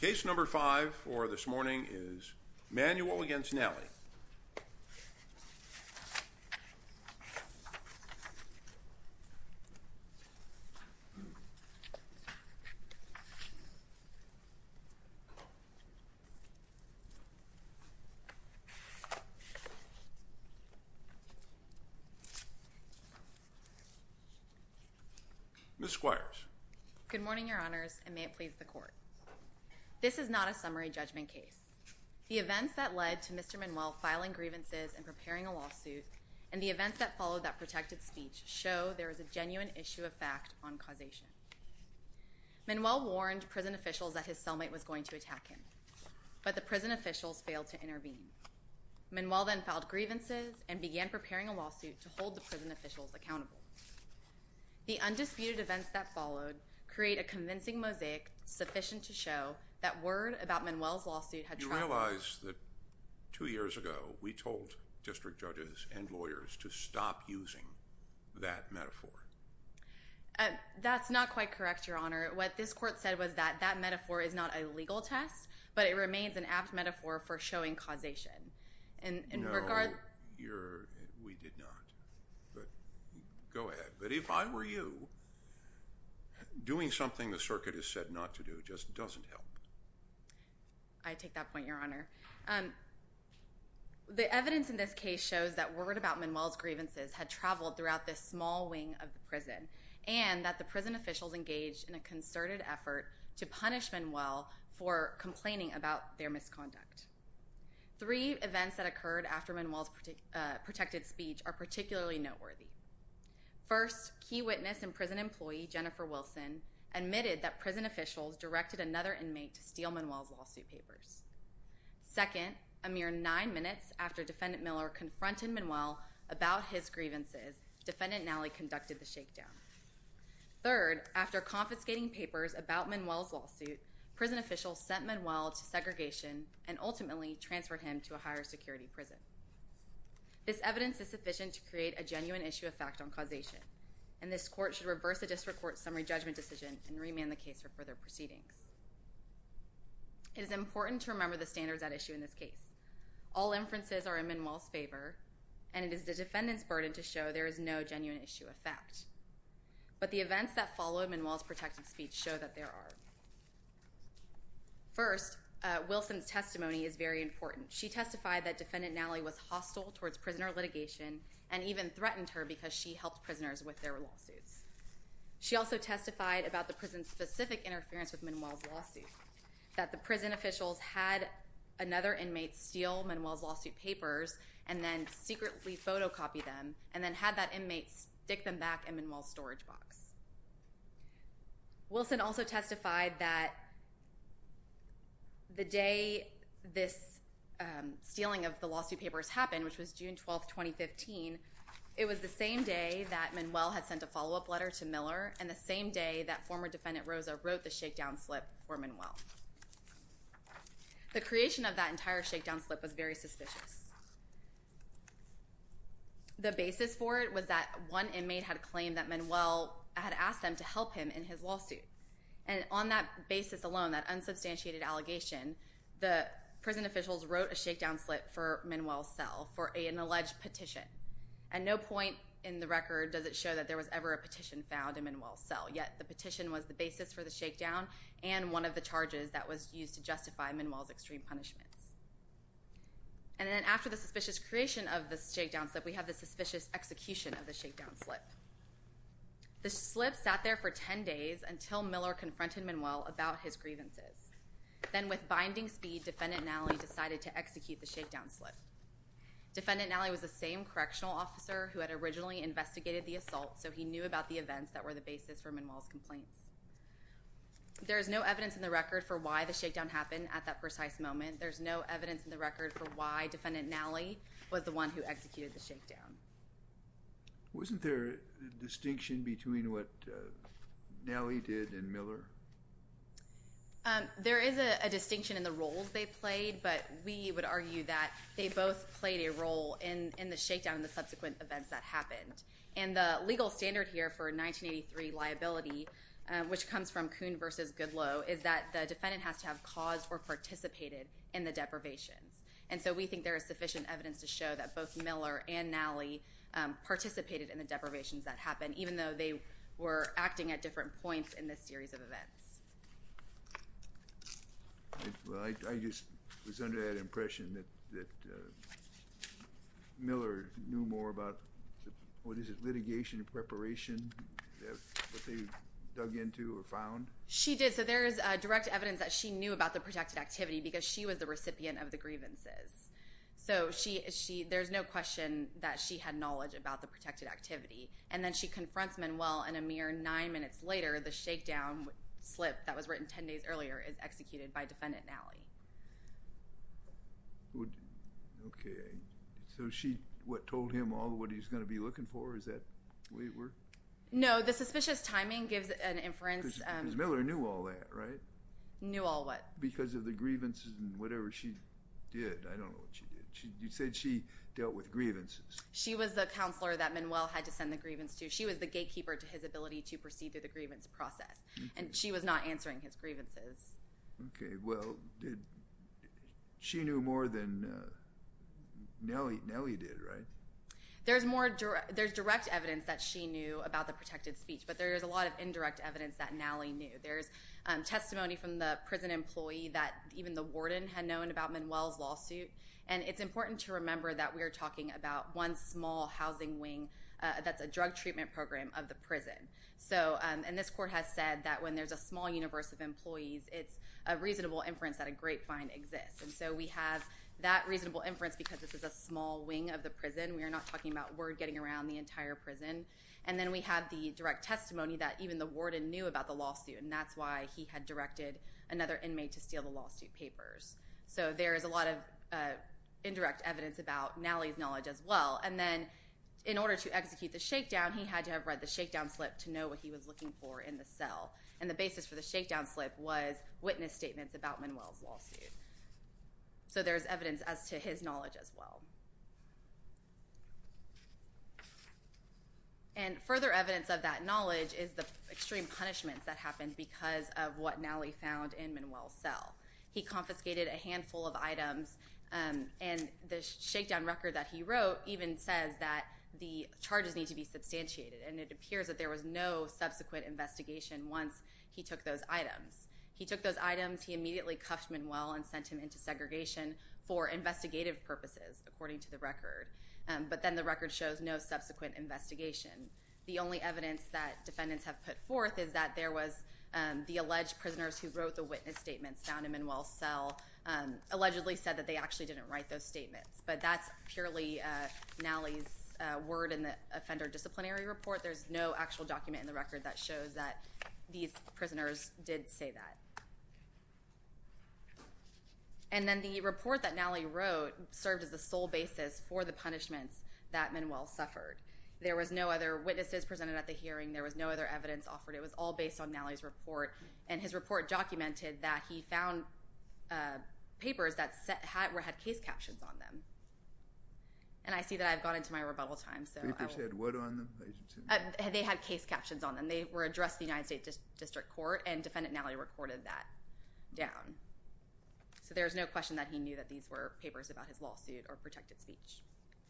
Case number five for this morning is Manuel v. Nalley. Ms. Squires. Good morning, Your Honors, and may it please the Court. This is not a summary judgment case. The events that led to Mr. Manuel filing grievances and preparing a lawsuit and the events that followed that protected speech show there is a genuine issue of fact on causation. Manuel warned prison officials that his cellmate was going to attack him, but the prison officials failed to intervene. Manuel then filed grievances and began preparing a lawsuit to hold the prison officials accountable. The undisputed events that followed create a convincing mosaic sufficient to show that word about Manuel's lawsuit had traveled. You realize that two years ago we told district judges and lawyers to stop using that metaphor. That's not quite correct, Your Honor. What this Court said was that that metaphor is not a legal test, but it remains an apt metaphor for showing causation. No, we did not. Go ahead. But if I were you, doing something the circuit has said not to do just doesn't help. I take that point, Your Honor. The evidence in this case shows that word about Manuel's grievances had traveled throughout this small wing of the prison and that the prison officials engaged in a concerted effort to punish Manuel for complaining about their misconduct. Three events that occurred after Manuel's protected speech are particularly noteworthy. First, key witness and prison employee, Jennifer Wilson, admitted that prison officials directed another inmate to steal Manuel's lawsuit papers. Second, a mere nine minutes after Defendant Miller confronted Manuel about his grievances, Defendant Nally conducted the shakedown. Third, after confiscating papers about Manuel's lawsuit, prison officials sent Manuel to segregation and ultimately transferred him to a higher security prison. This evidence is sufficient to create a genuine issue of fact on causation, and this Court should reverse the District Court's summary judgment decision and remand the case for further proceedings. It is important to remember the standards at issue in this case. All inferences are in Manuel's favor, and it is the Defendant's burden to show there is no genuine issue of fact. But the events that followed Manuel's protected speech show that there are. First, Wilson's testimony is very important. She testified that Defendant Nally was hostile towards prisoner litigation and even threatened her because she helped prisoners with their lawsuits. She also testified about the prison's specific interference with Manuel's lawsuit, that the prison officials had another inmate steal Manuel's lawsuit papers and then secretly photocopy them, and then had that inmate stick them back in Manuel's storage box. Wilson also testified that the day this stealing of the lawsuit papers happened, which was June 12, 2015, it was the same day that Manuel had sent a follow-up letter to Miller and the same day that former Defendant Rosa wrote the shakedown slip for Manuel. The creation of that entire shakedown slip was very suspicious. The basis for it was that one inmate had claimed that Manuel had asked them to help him in his lawsuit, and on that basis alone, that unsubstantiated allegation, the prison officials wrote a shakedown slip for Manuel's cell for an alleged petition, and no point in the record does it show that there was ever a petition found in Manuel's cell, yet the petition was the basis for the shakedown and one of the charges that was used to justify Manuel's extreme punishments. And then after the suspicious creation of the shakedown slip, we have the suspicious execution of the shakedown slip. The slip sat there for 10 days until Miller confronted Manuel about his grievances. Then with binding speed, Defendant Nally decided to execute the shakedown slip. Defendant Nally was the same correctional officer who had originally investigated the assault, so he knew about the events that were the basis for Manuel's complaints. There is no evidence in the record for why the shakedown happened at that precise moment. There's no evidence in the record for why Defendant Nally was the one who executed the shakedown. Wasn't there a distinction between what Nally did and Miller? There is a distinction in the roles they played, but we would argue that they both played a role in the shakedown and the subsequent events that happened. And the legal standard here for 1983 liability, which comes from Kuhn v. Goodloe, is that the defendant has to have caused or participated in the deprivations. And so we think there is sufficient evidence to show that both Miller and Nally participated in the deprivations that happened, even though they were acting at different points in this series of events. I just was under the impression that Miller knew more about litigation and preparation than what they dug into or found. She did. So there is direct evidence that she knew about the protected activity because she was the recipient of the grievances. So there's no question that she had knowledge about the protected activity. And then she confronts Manuel, and a mere nine minutes later, the shakedown slip that was written ten days earlier is executed by defendant Nally. Okay. So what told him all of what he was going to be looking for? Is that the way it worked? No. The suspicious timing gives an inference. Because Miller knew all that, right? Knew all what? Because of the grievances and whatever she did. I don't know what she did. You said she dealt with grievances. She was the counselor that Manuel had to send the grievance to. She was the gatekeeper to his ability to proceed through the grievance process. And she was not answering his grievances. Okay. Well, she knew more than Nally did, right? There's direct evidence that she knew about the protected speech, but there's a lot of indirect evidence that Nally knew. There's testimony from the prison employee that even the warden had known about Manuel's lawsuit. And it's important to remember that we are talking about one small housing wing that's a drug treatment program of the prison. And this court has said that when there's a small universe of employees, it's a reasonable inference that a grapevine exists. And so we have that reasonable inference because this is a small wing of the prison. We are not talking about word getting around the entire prison. And then we have the direct testimony that even the warden knew about the lawsuit, and that's why he had directed another inmate to steal the lawsuit papers. So there is a lot of indirect evidence about Nally's knowledge as well. And then in order to execute the shakedown, he had to have read the shakedown slip to know what he was looking for in the cell. And the basis for the shakedown slip was witness statements about Manuel's lawsuit. So there's evidence as to his knowledge as well. And further evidence of that knowledge is the extreme punishments that happened because of what Nally found in Manuel's cell. He confiscated a handful of items, and the shakedown record that he wrote, even says that the charges need to be substantiated. And it appears that there was no subsequent investigation once he took those items. He took those items, he immediately cuffed Manuel and sent him into segregation for investigative purposes, according to the record. But then the record shows no subsequent investigation. The only evidence that defendants have put forth is that there was the alleged prisoners who wrote the witness statements found in Manuel's cell, allegedly said that they actually didn't write those statements. But that's purely Nally's word in the offender disciplinary report. There's no actual document in the record that shows that these prisoners did say that. And then the report that Nally wrote served as the sole basis for the punishments that Manuel suffered. There was no other witnesses presented at the hearing. There was no other evidence offered. It was all based on Nally's report. And his report documented that he found papers that had case captions on them. And I see that I've gone into my rebuttal time. The papers had what on them? They had case captions on them. They were addressed to the United States District Court, and Defendant Nally recorded that down. So there's no question that he knew that these were papers about his lawsuit or protected speech.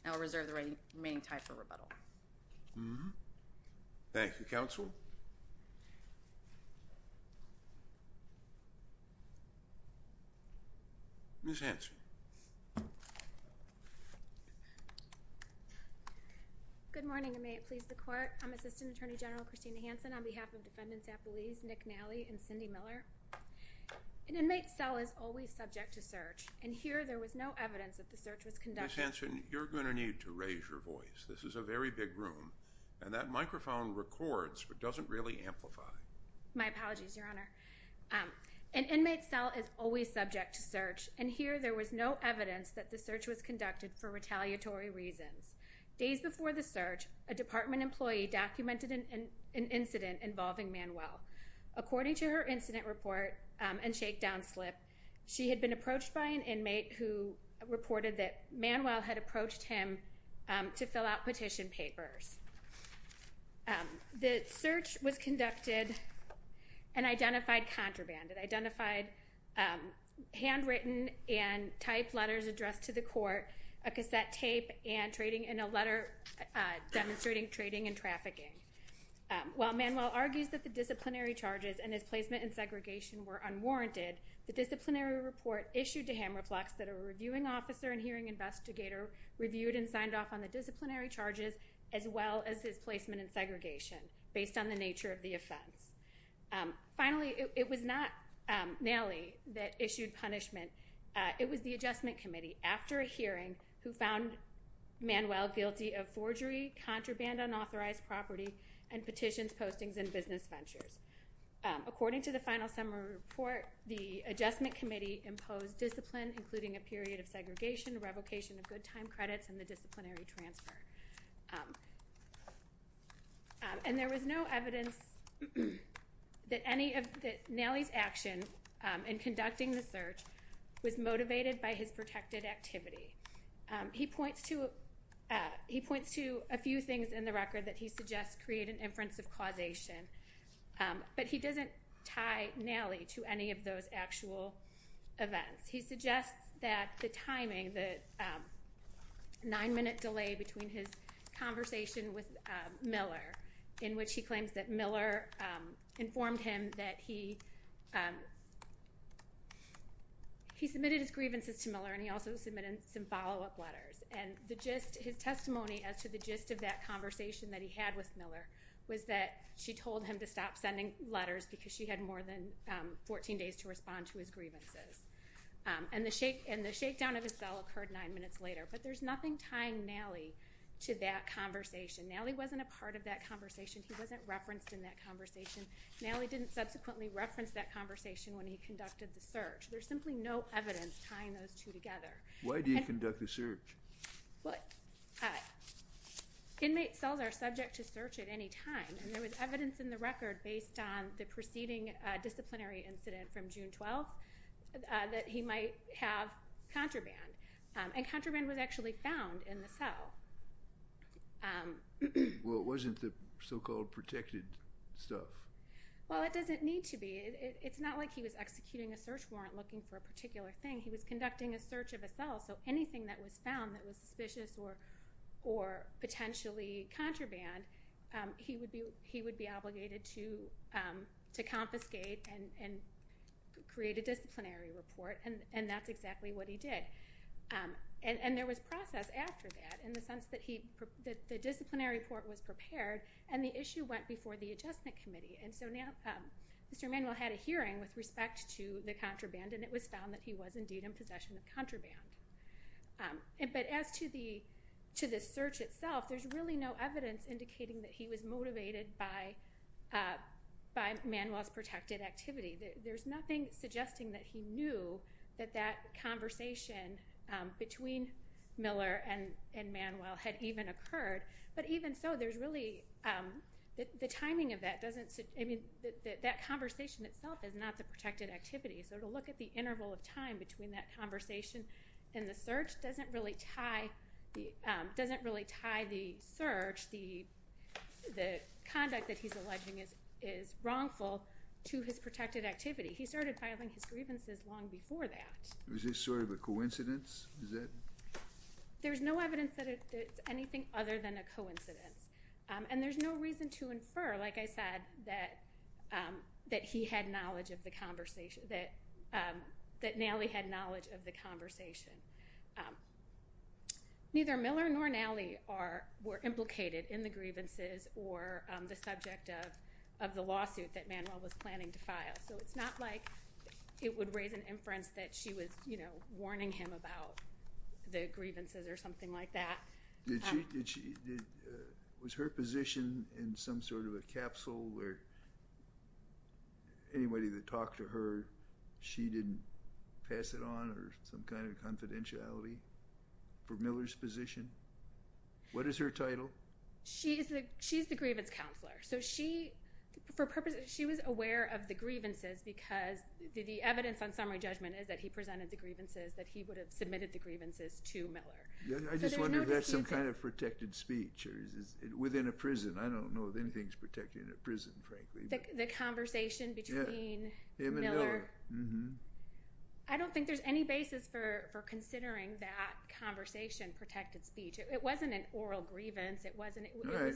I will reserve the remaining time for rebuttal. Thank you, Counsel. Ms. Hanson. Good morning, and may it please the Court. I'm Assistant Attorney General Christina Hanson on behalf of Defendants Appellees Nick Nally and Cindy Miller. An inmate's cell is always subject to search, and here there was no evidence that the search was conducted. Ms. Hanson, you're going to need to raise your voice. This is a very big room, and that microphone records but doesn't really amplify. My apologies, Your Honor. An inmate's cell is always subject to search, and here there was no evidence that the search was conducted for retaliatory reasons. Days before the search, a department employee documented an incident involving Manuel. According to her incident report and shakedown slip, she had been approached by an inmate who reported that Manuel had approached him to fill out petition papers. The search was conducted and identified contraband. It identified handwritten and typed letters addressed to the court, a cassette tape, and a letter demonstrating trading and trafficking. While Manuel argues that the disciplinary charges and his placement in segregation were unwarranted, the disciplinary report issued to Hamreflex that a reviewing officer and hearing investigator reviewed and signed off on the disciplinary charges as well as his placement in segregation, based on the nature of the offense. Finally, it was not Nally that issued punishment. It was the Adjustment Committee, after a hearing, who found Manuel guilty of forgery, contraband, unauthorized property, and petitions, postings, and business ventures. According to the final summary report, the Adjustment Committee imposed discipline, including a period of segregation, revocation of good time credits, and the disciplinary transfer. And there was no evidence that Nally's action in conducting the search was motivated by his protected activity. He points to a few things in the record that he suggests create an inference of causation, but he doesn't tie Nally to any of those actual events. He suggests that the timing, the nine-minute delay between his conversation with Miller, in which he claims that Miller informed him that he submitted his grievances to Miller and he also submitted some follow-up letters. And his testimony as to the gist of that conversation that he had with Miller was that she told him to stop sending letters because she had more than 14 days to respond to his grievances. And the shakedown of his cell occurred nine minutes later. But there's nothing tying Nally to that conversation. Nally wasn't a part of that conversation. He wasn't referenced in that conversation. Nally didn't subsequently reference that conversation when he conducted the search. There's simply no evidence tying those two together. Why do you conduct the search? Inmate cells are subject to search at any time, and there was evidence in the record based on the preceding disciplinary incident from June 12th that he might have contraband. And contraband was actually found in the cell. Well, it wasn't the so-called protected stuff. Well, it doesn't need to be. It's not like he was executing a search warrant looking for a particular thing. He was conducting a search of a cell, so anything that was found that was suspicious or potentially contraband, he would be obligated to confiscate and create a disciplinary report, and that's exactly what he did. And there was process after that in the sense that the disciplinary report was prepared and the issue went before the Adjustment Committee. And so Mr. Manuel had a hearing with respect to the contraband, and it was found that he was indeed in possession of contraband. But as to the search itself, there's really no evidence indicating that he was motivated by Manuel's protected activity. There's nothing suggesting that he knew that that conversation between Miller and Manuel had even occurred, but even so, the timing of that conversation itself is not the protected activity. So to look at the interval of time between that conversation and the search doesn't really tie the conduct that he's alleging is wrongful to his protected activity. He started filing his grievances long before that. Is this sort of a coincidence? There's no evidence that it's anything other than a coincidence, and there's no reason to infer, like I said, that he had knowledge of the conversation, that Nally had knowledge of the conversation. Neither Miller nor Nally were implicated in the grievances or the subject of the lawsuit that Manuel was planning to file, so it's not like it would raise an inference that she was, you know, warning him about the grievances or something like that. Was her position in some sort of a capsule where anybody that talked to her, she didn't pass it on or some kind of confidentiality for Miller's position? What is her title? She's the grievance counselor. So she was aware of the grievances because the evidence on summary judgment is that he presented the grievances that he would have submitted the grievances to Miller. I just wonder if that's some kind of protected speech within a prison. I don't know if anything's protected in a prison, frankly. The conversation between him and Miller. I don't think there's any basis for considering that conversation protected speech. It wasn't an oral grievance. All right,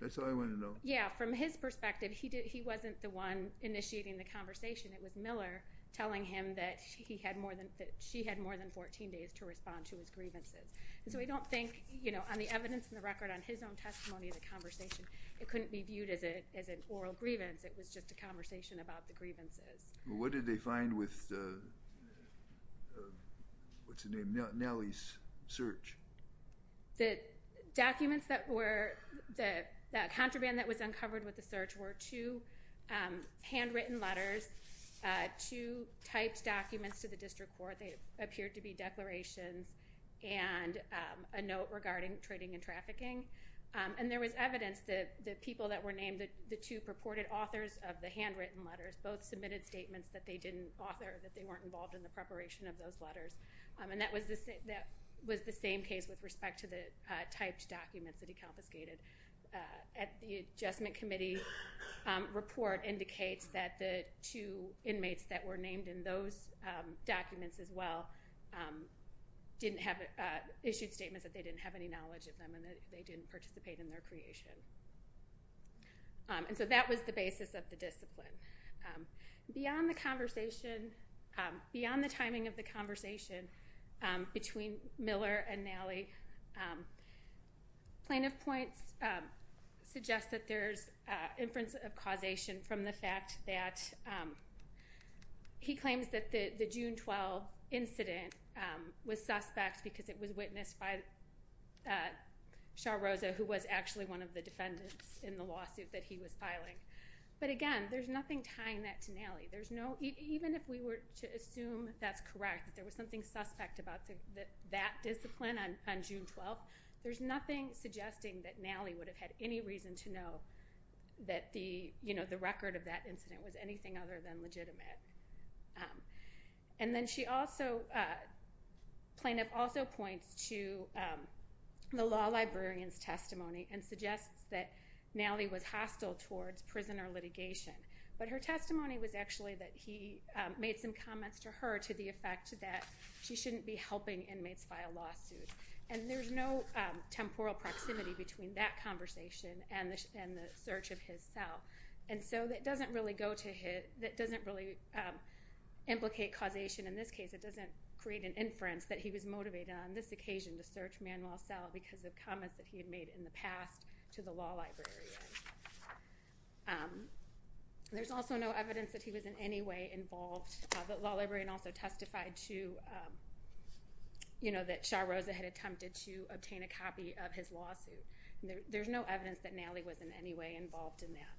that's all I want to know. Yeah, from his perspective, he wasn't the one initiating the conversation. It was Miller telling him that she had more than 14 days to respond to his grievances. So I don't think, you know, on the evidence in the record, on his own testimony of the conversation, it couldn't be viewed as an oral grievance. It was just a conversation about the grievances. What did they find with Nally's search? The documents that were, the contraband that was uncovered with the search were two handwritten letters, two typed documents to the district court. They appeared to be declarations and a note regarding trading and trafficking. And there was evidence that the people that were named, the two purported authors of the handwritten letters, both submitted statements that they didn't author, that they weren't involved in the preparation of those letters. And that was the same case with respect to the typed documents that he confiscated. The Adjustment Committee report indicates that the two inmates that were named in those documents as well issued statements that they didn't have any knowledge of them and that they didn't participate in their creation. And so that was the basis of the discipline. Beyond the conversation, beyond the timing of the conversation between Miller and Nally, plaintiff points suggest that there's inference of causation from the fact that he claims that the June 12 incident was suspect because it was witnessed by Shaw Rosa, who was actually one of the defendants in the lawsuit that he was filing. But again, there's nothing tying that to Nally. Even if we were to assume that's correct, that there was something suspect about that discipline on June 12, there's nothing suggesting that Nally would have had any reason to know that the record of that incident was anything other than legitimate. And then she also, plaintiff also points to the law librarian's testimony and suggests that Nally was hostile towards prisoner litigation. But her testimony was actually that he made some comments to her to the effect that she shouldn't be helping inmates file lawsuits. And there's no temporal proximity between that conversation and the search of his cell. And so that doesn't really go to his, that doesn't really implicate causation in this case. It doesn't create an inference that he was motivated on this occasion to search Manuel's cell because of comments that he had made in the past to the law librarian. There's also no evidence that he was in any way involved. The law librarian also testified to, you know, that Shaw Rosa had attempted to obtain a copy of his lawsuit. There's no evidence that Nally was in any way involved in that.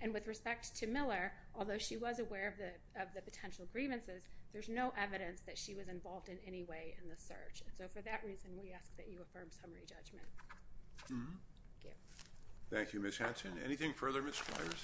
And with respect to Miller, although she was aware of the potential grievances, there's no evidence that she was involved in any way in the search. So for that reason, we ask that you affirm summary judgment. Thank you. Thank you, Ms. Hanson. Anything further, Ms. Squires?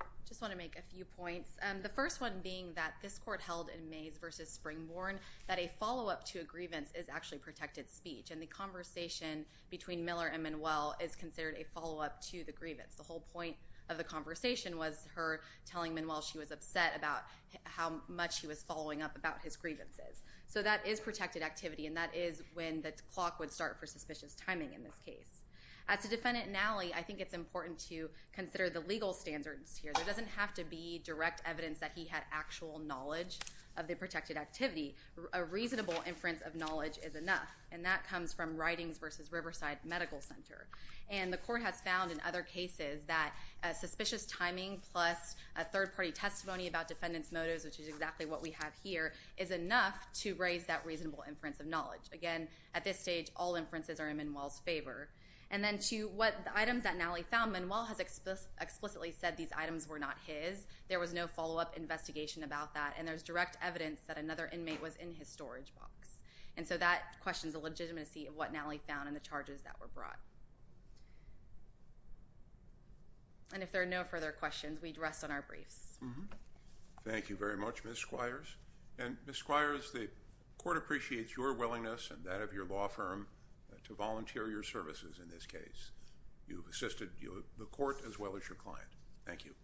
I just want to make a few points. The first one being that this court held in Mays v. Springborn that a follow-up to a grievance is actually protected speech. And the conversation between Miller and Manuel is considered a follow-up to the grievance. The whole point of the conversation was her telling Manuel she was upset about how much he was following up about his grievances. So that is protected activity, and that is when the clock would start for suspicious timing in this case. As a defendant, Nally, I think it's important to consider the legal standards here. There doesn't have to be direct evidence that he had actual knowledge of the protected activity. A reasonable inference of knowledge is enough, and that comes from Ridings v. Riverside Medical Center. And the court has found in other cases that suspicious timing plus a third-party testimony about defendant's motives, which is exactly what we have here, is enough to raise that reasonable inference of knowledge. Again, at this stage, all inferences are in Manuel's favor. And then to what items that Nally found, Manuel has explicitly said these items were not his. There was no follow-up investigation about that, and there's direct evidence that another inmate was in his storage box. And so that questions the legitimacy of what Nally found and the charges that were brought. And if there are no further questions, we'd rest on our briefs. Thank you very much, Ms. Squires. And, Ms. Squires, the court appreciates your willingness and that of your law firm to volunteer your services in this case. You've assisted the court as well as your client. Thank you.